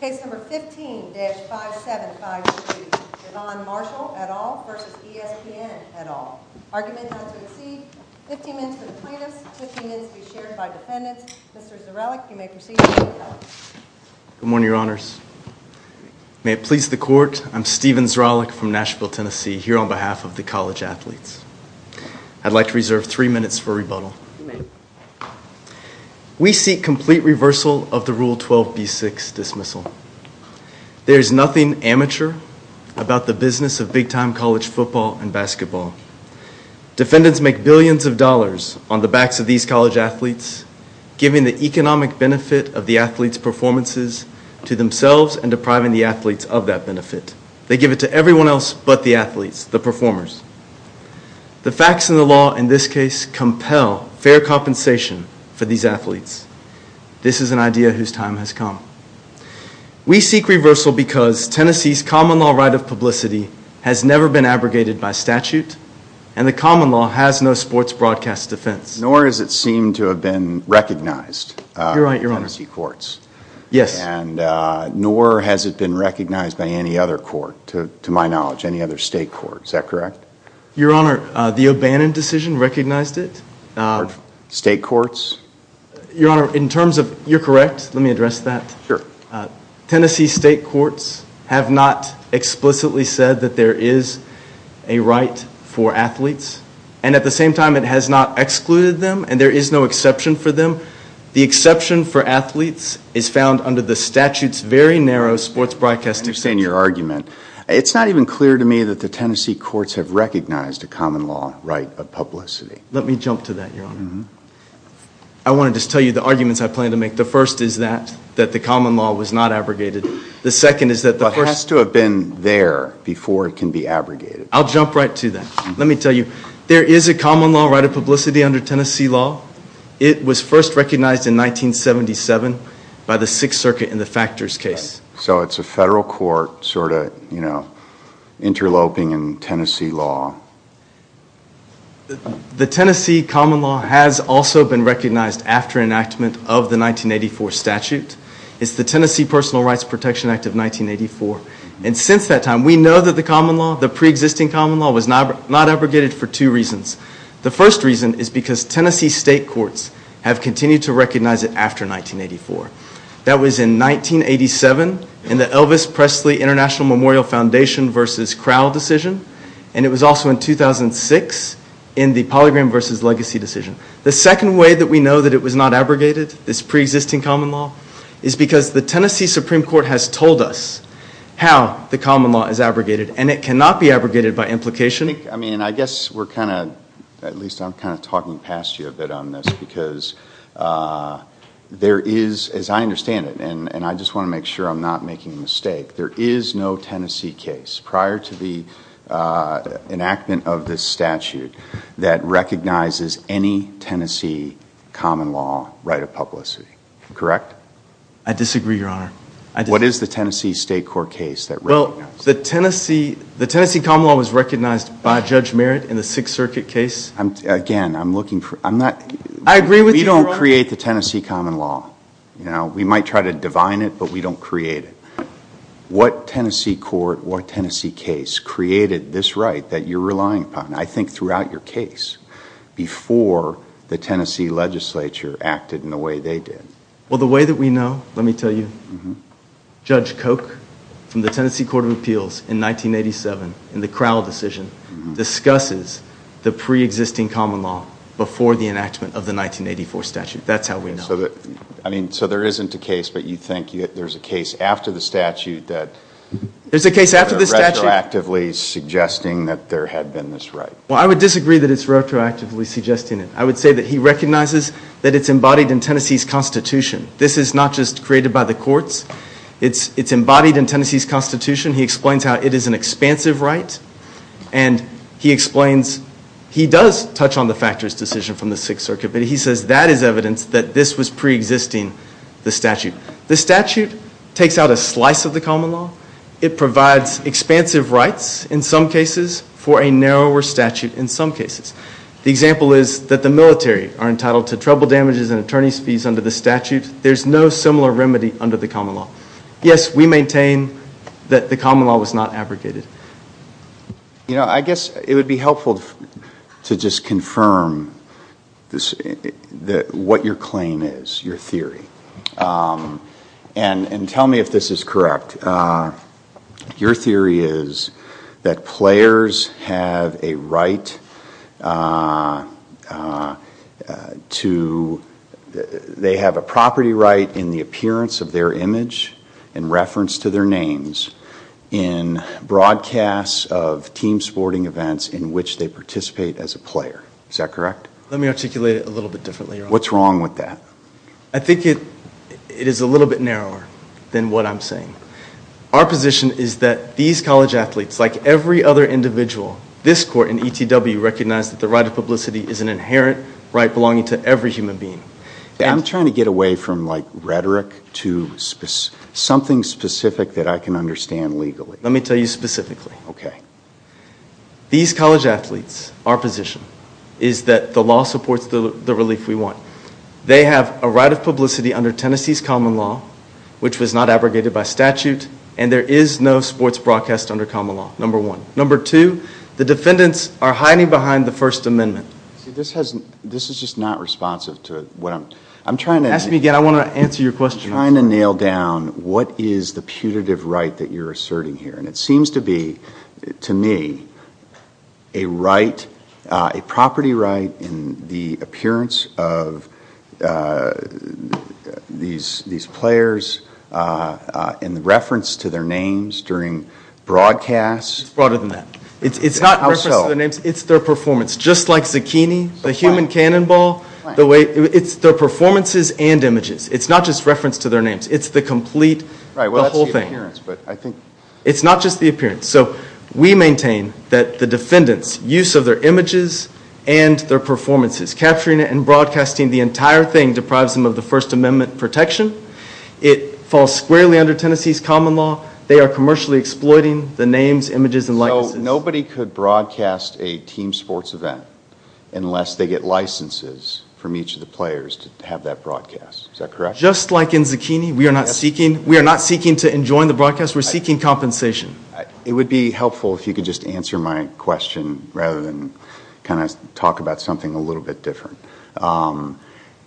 Case number 15-5753, Javon Marshall, et al. v. ESPN, et al. Argument not to exceed 15 minutes for the plaintiffs, 15 minutes to be shared by defendants. Mr. Zarellick, you may proceed. Good morning, Your Honors. May it please the Court, I'm Stephen Zarellick from Nashville, Tennessee, here on behalf of the college athletes. I'd like to reserve three minutes for rebuttal. You may. We seek complete reversal of the Rule 12b-6 dismissal. There is nothing amateur about the business of big-time college football and basketball. Defendants make billions of dollars on the backs of these college athletes, giving the economic benefit of the athletes' performances to themselves and depriving the athletes of that benefit. They give it to everyone else but the athletes, the performers. The facts in the law in this case compel fair compensation for these athletes. This is an idea whose time has come. We seek reversal because Tennessee's common law right of publicity has never been abrogated by statute and the common law has no sports broadcast defense. Nor does it seem to have been recognized in Tennessee courts. Yes. Nor has it been recognized by any other court, to my knowledge, any other state court. Is that correct? Your Honor, the O'Bannon decision recognized it. State courts? Your Honor, in terms of, you're correct, let me address that. Sure. Tennessee state courts have not explicitly said that there is a right for athletes and at the same time it has not excluded them and there is no exception for them. The exception for athletes is found under the statute's very narrow sports broadcast defense. I understand your argument. It's not even clear to me that the Tennessee courts have recognized a common law right of publicity. Let me jump to that, Your Honor. I want to just tell you the arguments I plan to make. The first is that the common law was not abrogated. The second is that the first... It has to have been there before it can be abrogated. I'll jump right to that. Let me tell you. There is a common law right of publicity under Tennessee law. It was first recognized in 1977 by the Sixth Circuit in the Factors case. So it's a federal court sort of interloping in Tennessee law. The Tennessee common law has also been recognized after enactment of the 1984 statute. It's the Tennessee Personal Rights Protection Act of 1984. And since that time, we know that the common law, the pre-existing common law, was not abrogated for two reasons. The first reason is because Tennessee state courts have continued to recognize it after 1984. That was in 1987 in the Elvis Presley International Memorial Foundation v. Crowell decision. And it was also in 2006 in the Polygram v. Legacy decision. The second way that we know that it was not abrogated, this pre-existing common law, is because the Tennessee Supreme Court has told us how the common law is abrogated. And it cannot be abrogated by implication. I mean, I guess we're kind of... At least I'm kind of talking past you a bit on this. Because there is, as I understand it, and I just want to make sure I'm not making a mistake, there is no Tennessee case prior to the enactment of this statute that recognizes any Tennessee common law right of publicity. Correct? I disagree, Your Honor. What is the Tennessee state court case that recognizes it? Well, the Tennessee common law was recognized by Judge Merritt in the Sixth Circuit case. Again, I'm looking for... I agree with you, Your Honor. We don't create the Tennessee common law. We might try to divine it, but we don't create it. What Tennessee court or Tennessee case created this right that you're relying upon, I think throughout your case, before the Tennessee legislature acted in the way they did? Well, the way that we know, let me tell you, Judge Koch from the Tennessee Court of Appeals in 1987 in the Crowell decision discusses the pre-existing common law before the enactment of the 1984 statute. That's how we know. So there isn't a case, but you think there's a case after the statute that... There's a case after the statute. ...retroactively suggesting that there had been this right. Well, I would disagree that it's retroactively suggesting it. I would say that he recognizes that it's embodied in Tennessee's constitution. This is not just created by the courts. It's embodied in Tennessee's constitution. He explains how it is an expansive right, and he explains...he does touch on the factors decision from the Sixth Circuit, but he says that is evidence that this was pre-existing the statute. The statute takes out a slice of the common law. It provides expansive rights in some cases for a narrower statute in some cases. The example is that the military are entitled to trouble damages and attorney's fees under the statute. There's no similar remedy under the common law. Yes, we maintain that the common law was not abrogated. I guess it would be helpful to just confirm what your claim is, your theory, and tell me if this is correct. Your theory is that players have a right to... they have a property right in the appearance of their image in reference to their names in broadcasts of team sporting events in which they participate as a player. Is that correct? Let me articulate it a little bit differently. What's wrong with that? I think it is a little bit narrower than what I'm saying. Our position is that these college athletes, like every other individual, this court and ETW recognize that the right of publicity is an inherent right belonging to every human being. I'm trying to get away from rhetoric to something specific that I can understand legally. Let me tell you specifically. These college athletes, our position, is that the law supports the relief we want. They have a right of publicity under Tennessee's common law, which was not abrogated by statute, and there is no sports broadcast under common law, number one. Number two, the defendants are hiding behind the First Amendment. This is just not responsive to what I'm... Ask me again. I want to answer your question. I'm trying to nail down what is the putative right that you're asserting here. It seems to be, to me, a property right in the appearance of these players in reference to their names during broadcasts. It's broader than that. It's not in reference to their names. How so? It's their performance, just like Zucchini, the human cannonball. It's their performances and images. It's not just reference to their names. It's the complete, the whole thing. Right, well, that's the appearance, but I think... It's not just the appearance. So we maintain that the defendants' use of their images and their performances, capturing it and broadcasting the entire thing, deprives them of the First Amendment protection. It falls squarely under Tennessee's common law. They are commercially exploiting the names, images, and likenesses. So nobody could broadcast a team sports event unless they get licenses from each of the players to have that broadcast. Is that correct? Just like in Zucchini, we are not seeking to enjoin the broadcast. We're seeking compensation. It would be helpful if you could just answer my question rather than kind of talk about something a little bit different.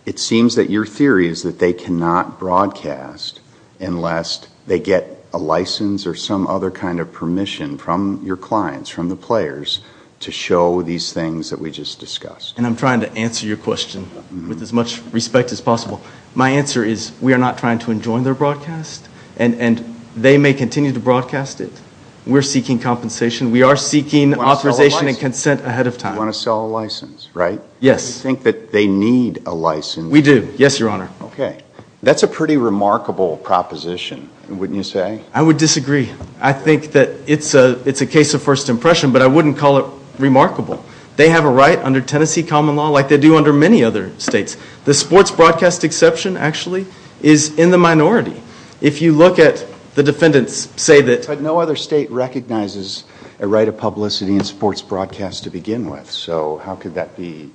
It seems that your theory is that they cannot broadcast unless they get a license or some other kind of permission from your clients, from the players, to show these things that we just discussed. And I'm trying to answer your question with as much respect as possible. My answer is we are not trying to enjoin their broadcast, and they may continue to broadcast it. We're seeking compensation. We are seeking authorization and consent ahead of time. You want to sell a license, right? Yes. You think that they need a license? We do. Yes, Your Honor. Okay. That's a pretty remarkable proposition, wouldn't you say? I would disagree. I think that it's a case of first impression, but I wouldn't call it remarkable. They have a right under Tennessee common law, like they do under many other states. The sports broadcast exception, actually, is in the minority. If you look at the defendants say that... But no other state recognizes a right of publicity in sports broadcast to begin with, so how could that be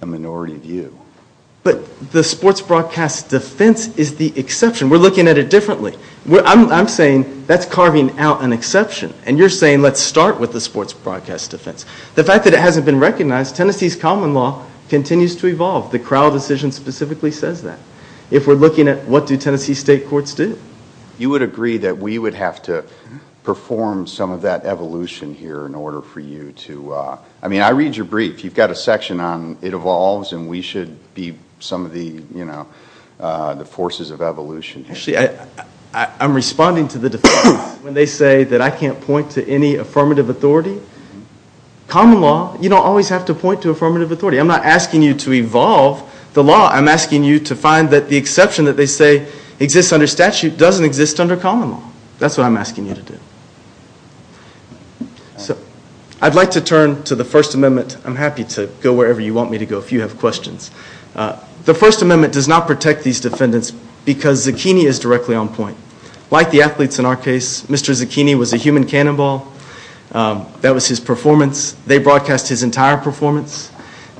a minority view? But the sports broadcast defense is the exception. We're looking at it differently. I'm saying that's carving out an exception, and you're saying let's start with the sports broadcast defense. The fact that it hasn't been recognized, Tennessee's common law continues to evolve. The Crowell decision specifically says that. If we're looking at what do Tennessee state courts do? You would agree that we would have to perform some of that evolution here in order for you to... I mean, I read your brief. You've got a section on it evolves, and we should be some of the forces of evolution here. Actually, I'm responding to the defense. When they say that I can't point to any affirmative authority, common law, you don't always have to point to affirmative authority. I'm not asking you to evolve the law. I'm asking you to find that the exception that they say exists under statute doesn't exist under common law. That's what I'm asking you to do. I'd like to turn to the First Amendment. I'm happy to go wherever you want me to go if you have questions. The First Amendment does not protect these defendants because Zucchini is directly on point. Like the athletes in our case, Mr. Zucchini was a human cannonball. That was his performance. They broadcast his entire performance.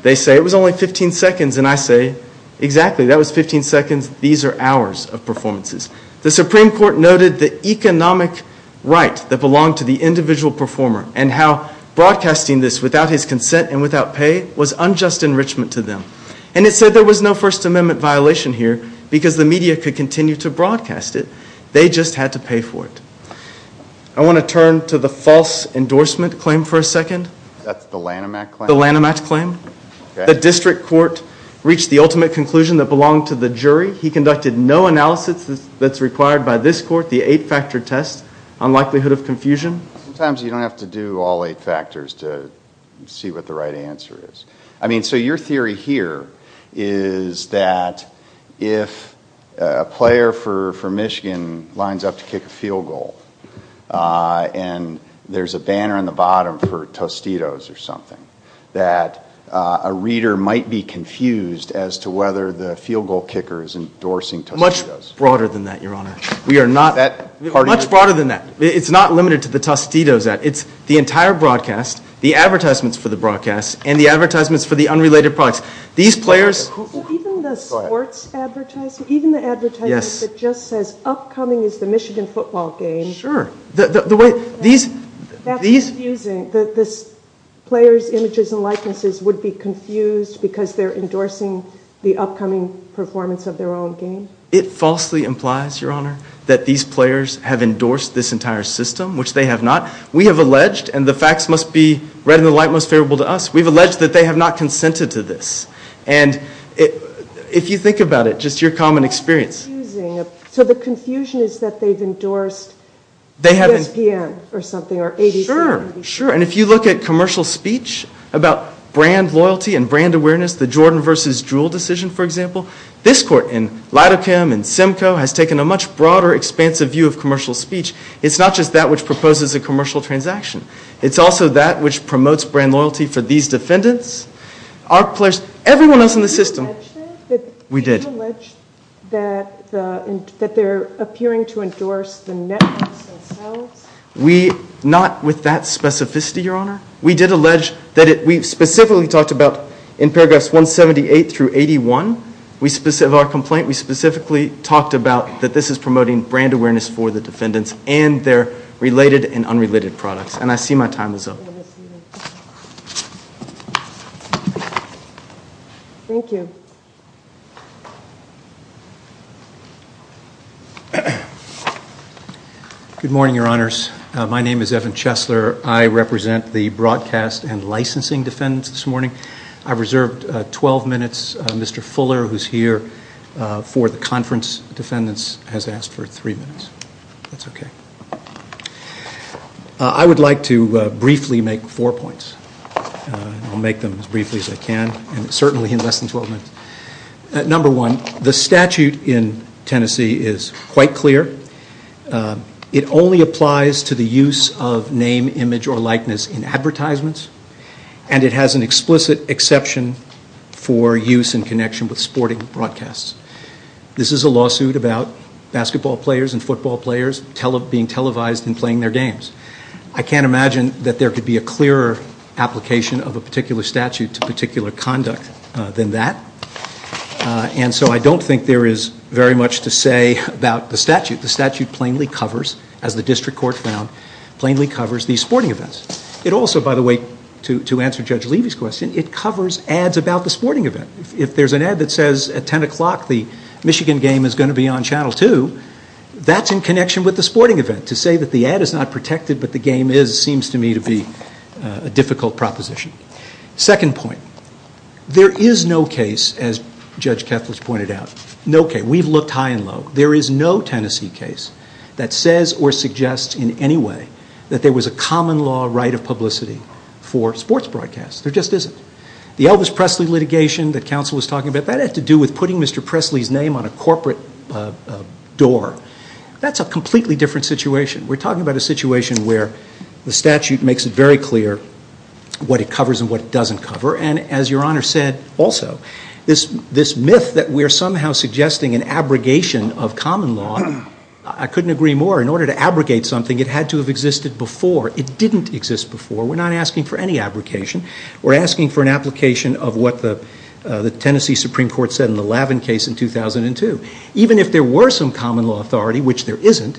They say it was only 15 seconds, and I say exactly. That was 15 seconds. These are hours of performances. The Supreme Court noted the economic right that belonged to the individual performer and how broadcasting this without his consent and without pay was unjust enrichment to them. And it said there was no First Amendment violation here because the media could continue to broadcast it. They just had to pay for it. I want to turn to the false endorsement claim for a second. That's the Lanham Act claim? The Lanham Act claim. The district court reached the ultimate conclusion that belonged to the jury. He conducted no analysis that's required by this court, the eight-factor test, on likelihood of confusion. Sometimes you don't have to do all eight factors to see what the right answer is. I mean, so your theory here is that if a player for Michigan lines up to kick a field goal and there's a banner on the bottom for Tostitos or something, that a reader might be confused as to whether the field goal kicker is endorsing Tostitos. Much broader than that, Your Honor. We are not. Much broader than that. It's not limited to the Tostitos ad. It's the entire broadcast, the advertisements for the broadcast, and the advertisements for the unrelated products. These players... Even the sports advertising? Even the advertising that just says, upcoming is the Michigan football game? Sure. That's confusing. The players' images and likenesses would be confused because they're endorsing the upcoming performance of their own game? It falsely implies, Your Honor, that these players have endorsed this entire system, which they have not. We have alleged, and the facts must be read in the light most favorable to us, we've alleged that they have not consented to this. And if you think about it, just your common experience... It's confusing. So the confusion is that they've endorsed ESPN or something? Sure. And if you look at commercial speech about brand loyalty and brand awareness, the Jordan versus Jewell decision, for example, this court in Lidochem and Simcoe has taken a much broader, expansive view of commercial speech. It's not just that which proposes a commercial transaction. It's also that which promotes brand loyalty for these defendants. Our players... Everyone else in the system... Did you allege that? We did. Did you allege that they're appearing to endorse the Netflix themselves? We... Not with that specificity, Your Honor. We did allege that it... We specifically talked about, in paragraphs 178 through 81, our complaint, we specifically talked about that this is promoting brand awareness for the defendants and their related and unrelated products. And I see my time is up. Thank you. Good morning, Your Honors. My name is Evan Chesler. I represent the broadcast and licensing defendants this morning. I've reserved 12 minutes. Mr. Fuller, who's here for the conference defendants, has asked for three minutes. That's okay. I would like to briefly make four points. I'll make them as briefly as I can, and certainly in less than 12 minutes. Number one, the statute in Tennessee is quite clear. It only applies to the use of name, image, or likeness in advertisements, and it has an explicit exception for use in connection with sporting broadcasts. This is a lawsuit about basketball players and football players being televised and playing their games. I can't imagine that there could be a clearer application of a particular statute to particular conduct than that, and so I don't think there is very much to say about the statute. The statute plainly covers, as the district court found, plainly covers these sporting events. It also, by the way, to answer Judge Levy's question, it covers ads about the sporting event. If there's an ad that says at 10 o'clock the Michigan game is going to be on Channel 2, that's in connection with the sporting event. To say that the ad is not protected but the game is seems to me to be a difficult proposition. Second point, there is no case, as Judge Kethledge pointed out, no case. We've looked high and low. There is no Tennessee case that says or suggests in any way that there was a common law right of publicity for sports broadcasts. There just isn't. The Elvis Presley litigation that counsel was talking about, that had to do with putting Mr. Presley's name on a corporate door. That's a completely different situation. We're talking about a situation where the statute makes it very clear what it covers and what it doesn't cover, and as Your Honor said also, this myth that we're somehow suggesting an abrogation of common law, I couldn't agree more. In order to abrogate something, it had to have existed before. It didn't exist before. We're not asking for any abrogation. We're asking for an application of what the Tennessee Supreme Court said in the Lavin case in 2002. Even if there were some common law authority, which there isn't,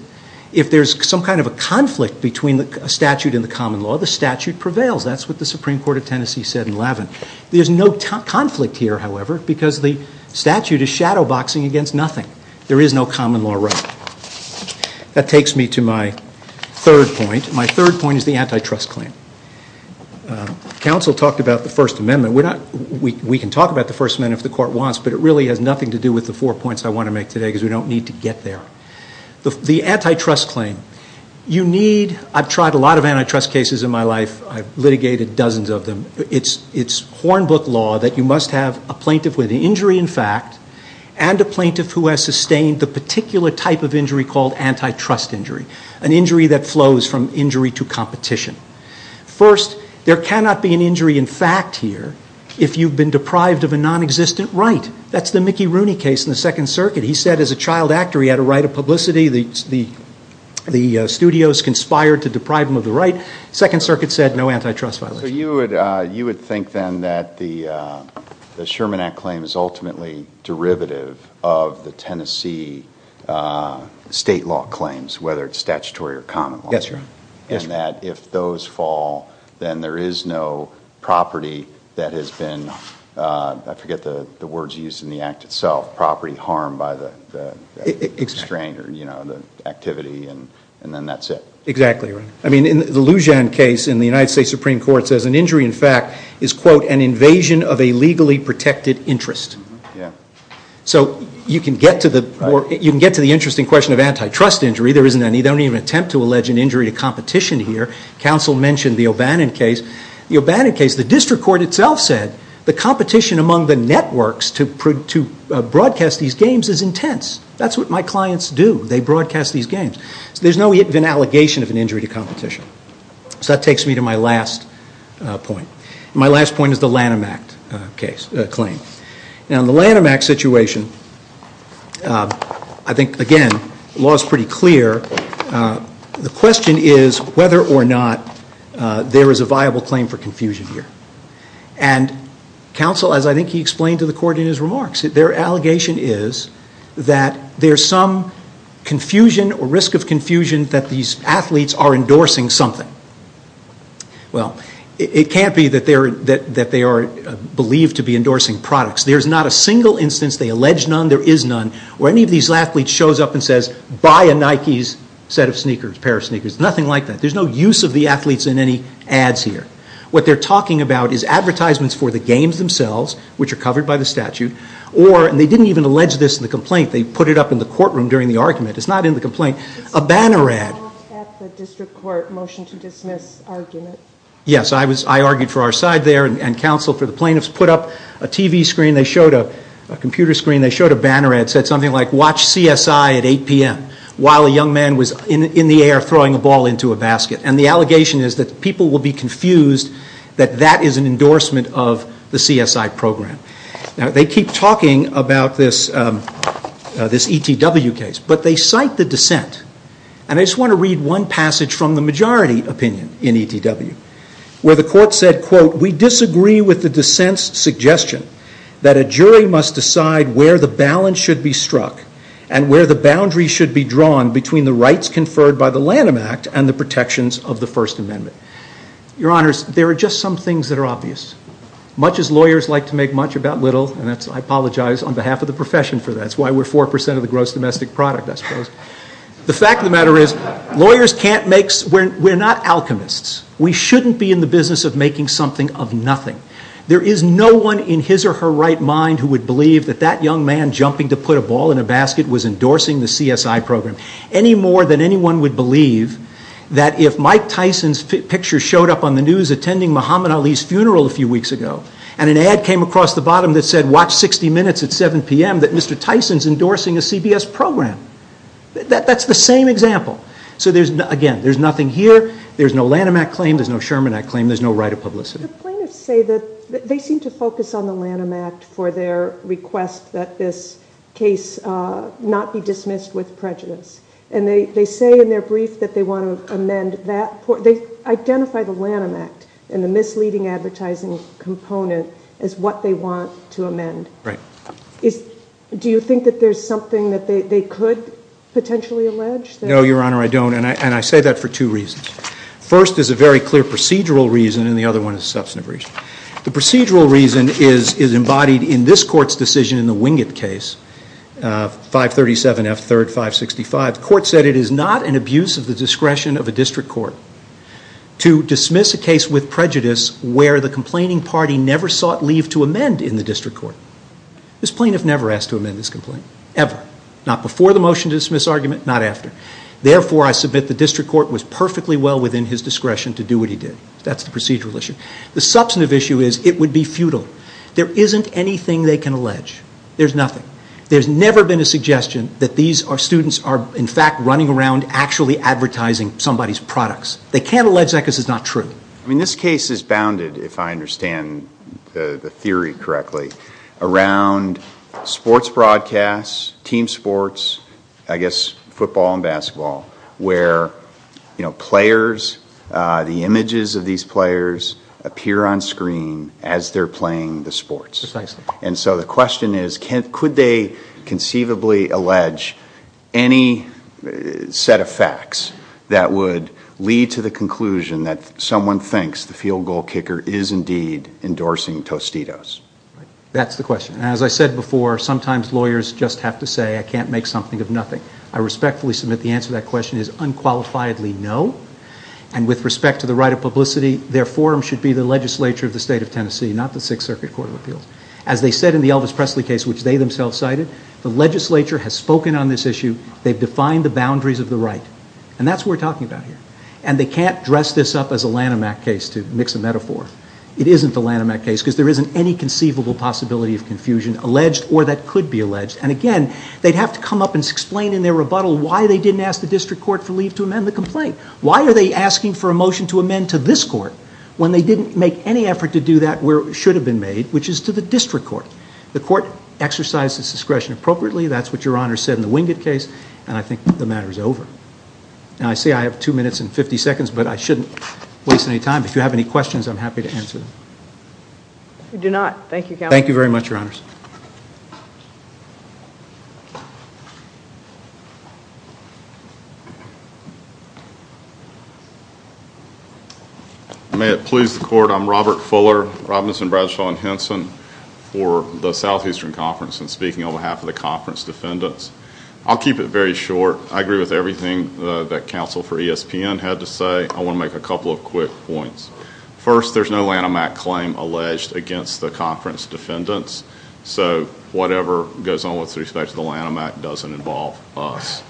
if there's some kind of a conflict between a statute and the common law, the statute prevails. That's what the Supreme Court of Tennessee said in Lavin. There's no conflict here, however, because the statute is shadow boxing against nothing. There is no common law right. That takes me to my third point. My third point is the antitrust claim. Counsel talked about the First Amendment. We can talk about the First Amendment if the court wants, but it really has nothing to do with the four points I want to make today because we don't need to get there. The antitrust claim, you need, I've tried a lot of antitrust cases in my life. I've litigated dozens of them. It's horn book law that you must have a plaintiff with an injury in fact and a plaintiff who has sustained the particular type of injury called antitrust injury, an injury that flows from injury to competition. First, there cannot be an injury in fact here if you've been deprived of a nonexistent right. That's the Mickey Rooney case in the Second Circuit. He said as a child actor he had a right of publicity. The studios conspired to deprive him of the right. Second Circuit said no antitrust violation. So you would think then that the Sherman Act claim is ultimately derivative of the Tennessee state law claims, whether it's statutory or common law. Yes, Your Honor. And that if those fall, then there is no property that has been, I forget the words used in the Act itself, property harmed by the strain or the activity and then that's it. Exactly, Your Honor. I mean the Lujan case in the United States Supreme Court says an injury in fact is, quote, an invasion of a legally protected interest. So you can get to the interesting question of antitrust injury. There isn't any. They don't even attempt to allege an injury to competition here. Counsel mentioned the O'Bannon case. The O'Bannon case, the district court itself said the competition among the networks to broadcast these games is intense. That's what my clients do. They broadcast these games. So there's no even allegation of an injury to competition. So that takes me to my last point. My last point is the Lanham Act claim. Now in the Lanham Act situation, I think, again, the law is pretty clear. The question is whether or not there is a viable claim for confusion here. And counsel, as I think he explained to the court in his remarks, their allegation is that there's some confusion or risk of confusion that these athletes are endorsing something. Well, it can't be that they are believed to be endorsing products. There's not a single instance they allege none, there is none, where any of these athletes shows up and says, buy a Nike pair of sneakers. Nothing like that. There's no use of the athletes in any ads here. What they're talking about is advertisements for the games themselves, which are covered by the statute, or, and they didn't even allege this in the complaint, they put it up in the courtroom during the argument. It's not in the complaint. A banner ad. It's not at the district court motion to dismiss argument. Yes, I argued for our side there, and counsel for the plaintiffs put up a TV screen, they showed a computer screen, they showed a banner ad, said something like, watch CSI at 8 p.m. while a young man was in the air throwing a ball into a basket. And the allegation is that people will be confused that that is an endorsement of the CSI program. Now, they keep talking about this ETW case, but they cite the dissent, and I just want to read one passage from the majority opinion in ETW, where the court said, quote, we disagree with the dissent's suggestion that a jury must decide where the balance should be struck and where the boundary should be drawn between the rights conferred by the Lanham Act and the protections of the First Amendment. Your Honors, there are just some things that are obvious. Much as lawyers like to make much about little, and I apologize on behalf of the profession for that. That's why we're 4% of the gross domestic product, I suppose. The fact of the matter is, lawyers can't make, we're not alchemists. We shouldn't be in the business of making something of nothing. There is no one in his or her right mind who would believe that that young man who was jumping to put a ball in a basket was endorsing the CSI program. Any more than anyone would believe that if Mike Tyson's picture showed up on the news attending Muhammad Ali's funeral a few weeks ago, and an ad came across the bottom that said, watch 60 minutes at 7 p.m., that Mr. Tyson's endorsing a CBS program. That's the same example. So, again, there's nothing here. There's no Lanham Act claim. There's no Sherman Act claim. There's no right of publicity. The plaintiffs say that they seem to focus on the Lanham Act for their request that this case not be dismissed with prejudice, and they say in their brief that they want to amend that. They identify the Lanham Act and the misleading advertising component as what they want to amend. Right. Do you think that there's something that they could potentially allege? No, Your Honor, I don't, and I say that for two reasons. First is a very clear procedural reason, and the other one is a substantive reason. The procedural reason is embodied in this Court's decision in the Wingate case, 537 F. 3rd. 565. The Court said it is not an abuse of the discretion of a district court to dismiss a case with prejudice where the complaining party never sought leave to amend in the district court. This plaintiff never asked to amend this complaint, ever. Not before the motion to dismiss argument, not after. Therefore, I submit the district court was perfectly well within his discretion to do what he did. That's the procedural issue. The substantive issue is it would be futile. There isn't anything they can allege. There's nothing. There's never been a suggestion that these students are in fact running around actually advertising somebody's products. They can't allege that because it's not true. I mean, this case is bounded, if I understand the theory correctly, around sports broadcasts, team sports, I guess football and basketball, where players, the images of these players appear on screen as they're playing the sports. Precisely. And so the question is, could they conceivably allege any set of facts that would lead to the conclusion that someone thinks the field goal kicker is indeed endorsing Tostitos? That's the question. As I said before, sometimes lawyers just have to say, I can't make something of nothing. I respectfully submit the answer to that question is unqualifiedly no. And with respect to the right of publicity, their forum should be the legislature of the state of Tennessee, not the Sixth Circuit Court of Appeals. As they said in the Elvis Presley case, which they themselves cited, the legislature has spoken on this issue. They've defined the boundaries of the right. And that's what we're talking about here. And they can't dress this up as a Lanham Act case, to mix a metaphor. It isn't the Lanham Act case because there isn't any conceivable possibility of confusion, alleged or that could be alleged. And again, they'd have to come up and explain in their rebuttal why they didn't ask the district court for leave to amend the complaint. Why are they asking for a motion to amend to this court when they didn't make any effort to do that where it should have been made, which is to the district court. The court exercised its discretion appropriately. That's what Your Honor said in the Wingate case. And I think the matter is over. And I say I have two minutes and 50 seconds, but I shouldn't waste any time. If you have any questions, I'm happy to answer them. We do not. Thank you, Counselor. Thank you very much, Your Honors. May it please the Court, I'm Robert Fuller, Robinson, Bradshaw, and Henson for the Southeastern Conference and speaking on behalf of the conference defendants. I'll keep it very short. I agree with everything that Counsel for ESPN had to say. I want to make a couple of quick points. First, there's no Lanham Act claim alleged against the conference defendants, so whatever goes on with respect to the Lanham Act doesn't involve us.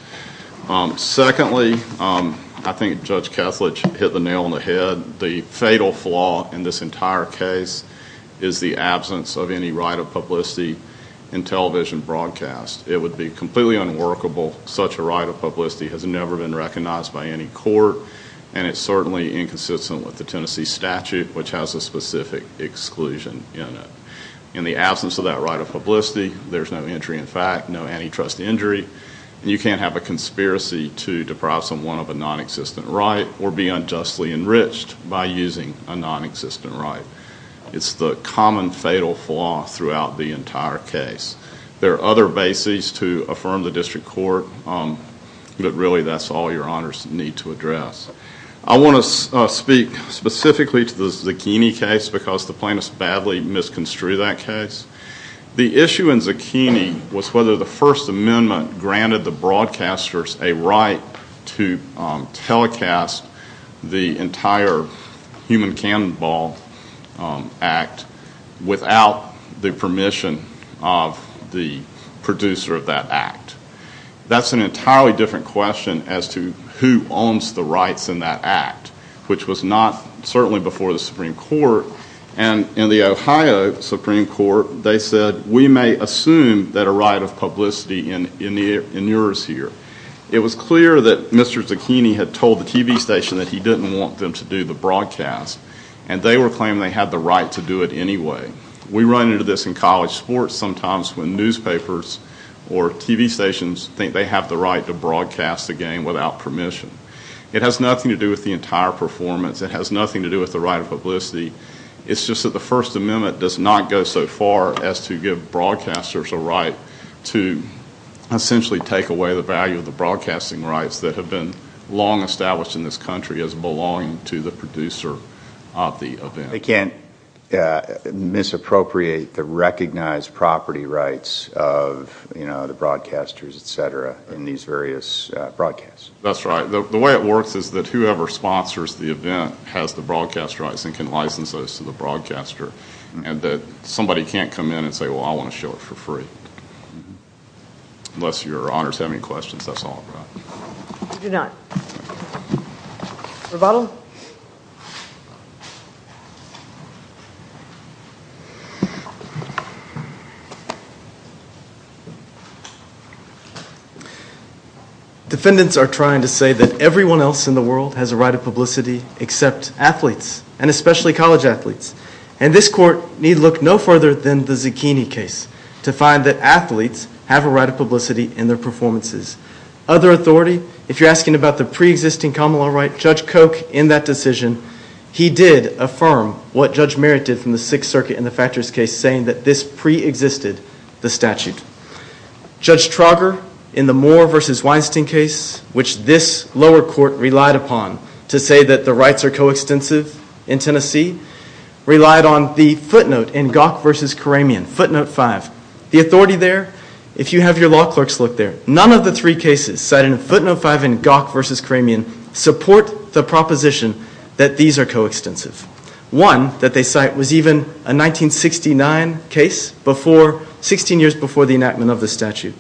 Secondly, I think Judge Ketledge hit the nail on the head. The fatal flaw in this entire case is the absence of any right of publicity in television broadcast. It would be completely unworkable. Such a right of publicity has never been recognized by any court, and it's certainly inconsistent with the Tennessee statute, which has a specific exclusion in it. In the absence of that right of publicity, there's no injury in fact, no antitrust injury. You can't have a conspiracy to deprive someone of a nonexistent right or be unjustly enriched by using a nonexistent right. It's the common fatal flaw throughout the entire case. There are other bases to affirm the district court, but really that's all your honors need to address. I want to speak specifically to the Zucchini case because the plaintiffs badly misconstrued that case. The issue in Zucchini was whether the First Amendment granted the broadcasters a right to telecast the entire Human Cannonball Act without the permission of the producer of that act. That's an entirely different question as to who owns the rights in that act, which was not certainly before the Supreme Court. In the Ohio Supreme Court, they said, we may assume that a right of publicity in yours here. It was clear that Mr. Zucchini had told the TV station that he didn't want them to do the broadcast, and they were claiming they had the right to do it anyway. We run into this in college sports sometimes when newspapers or TV stations think they have the right to broadcast the game without permission. It has nothing to do with the entire performance. It has nothing to do with the right of publicity. It's just that the First Amendment does not go so far as to give broadcasters a right to essentially take away the value of the broadcasting rights that have been long established in this country as belonging to the producer of the event. They can't misappropriate the recognized property rights of the broadcasters, etc., in these various broadcasts. That's right. The way it works is that whoever sponsors the event has the broadcast rights and can license those to the broadcaster, and that somebody can't come in and say, well, I want to show it for free, unless your honors have any questions. That's all I've got. We do not. Rebuttal? Rebuttal? Defendants are trying to say that everyone else in the world has a right of publicity except athletes, and especially college athletes. And this court need look no further than the Zucchini case to find that athletes have a right of publicity in their performances. Other authority? If you're asking about the preexisting common law right, Judge Koch, in that decision, he did affirm what Judge Merritt did from the Sixth Circuit in the Thatcher's case, saying that this preexisted the statute. Judge Trauger, in the Moore v. Weinstein case, which this lower court relied upon to say that the rights are coextensive in Tennessee, relied on the footnote in Gawk v. Karamian, footnote five. The authority there, if you have your law clerks look there, none of the three cases cited in footnote five in Gawk v. Karamian support the proposition that these are coextensive. One that they cite was even a 1969 case, 16 years before the enactment of the statute.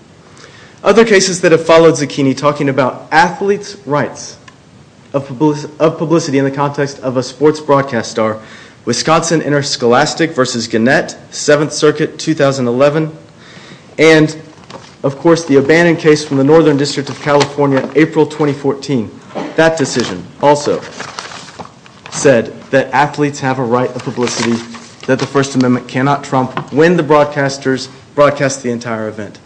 Other cases that have followed Zucchini talking about athletes' rights of publicity in the context of a sports broadcast are Wisconsin Interscholastic v. Gannett, Seventh Circuit, 2011, and, of course, the abandoned case from the Northern District of California, April 2014. That decision also said that athletes have a right of publicity that the First Amendment cannot trump when the broadcasters broadcast the entire event.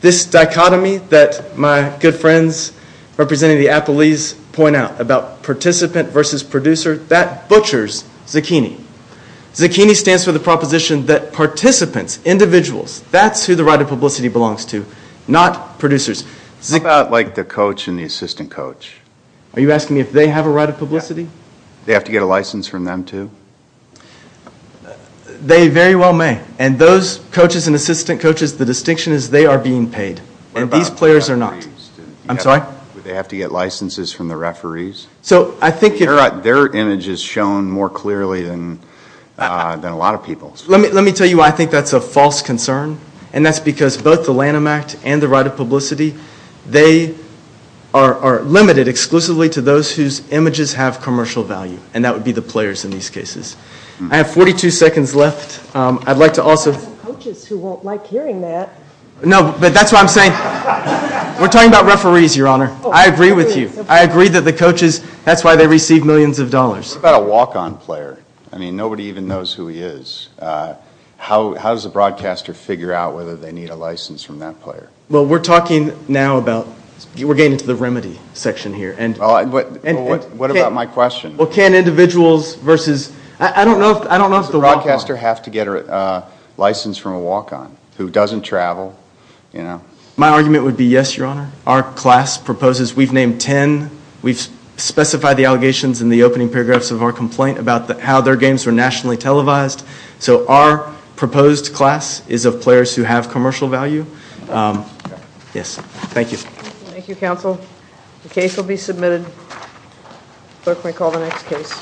This dichotomy that my good friends representing the athletes point out about participant versus producer, that butchers Zucchini. Zucchini stands for the proposition that participants, individuals, that's who the right of publicity belongs to, not producers. How about like the coach and the assistant coach? Are you asking me if they have a right of publicity? They have to get a license from them too? They very well may, and those coaches and assistant coaches, the distinction is they are being paid, and these players are not. What about referees? I'm sorry? Do they have to get licenses from the referees? Their image is shown more clearly than a lot of people's. Let me tell you why I think that's a false concern, and that's because both the Lanham Act and the right of publicity, they are limited exclusively to those whose images have commercial value, and that would be the players in these cases. I have 42 seconds left. I'd like to also – I have coaches who won't like hearing that. No, but that's what I'm saying. We're talking about referees, Your Honor. I agree with you. I agree that the coaches, that's why they receive millions of dollars. What about a walk-on player? I mean, nobody even knows who he is. How does the broadcaster figure out whether they need a license from that player? Well, we're talking now about – we're getting into the remedy section here. What about my question? Well, can individuals versus – I don't know if the walk-on – Does the broadcaster have to get a license from a walk-on who doesn't travel? My argument would be yes, Your Honor. Our class proposes – we've named 10. We've specified the allegations in the opening paragraphs of our complaint about how their games were nationally televised. So our proposed class is of players who have commercial value. Yes. Thank you. Thank you, counsel. The case will be submitted. Clerk may call the next case.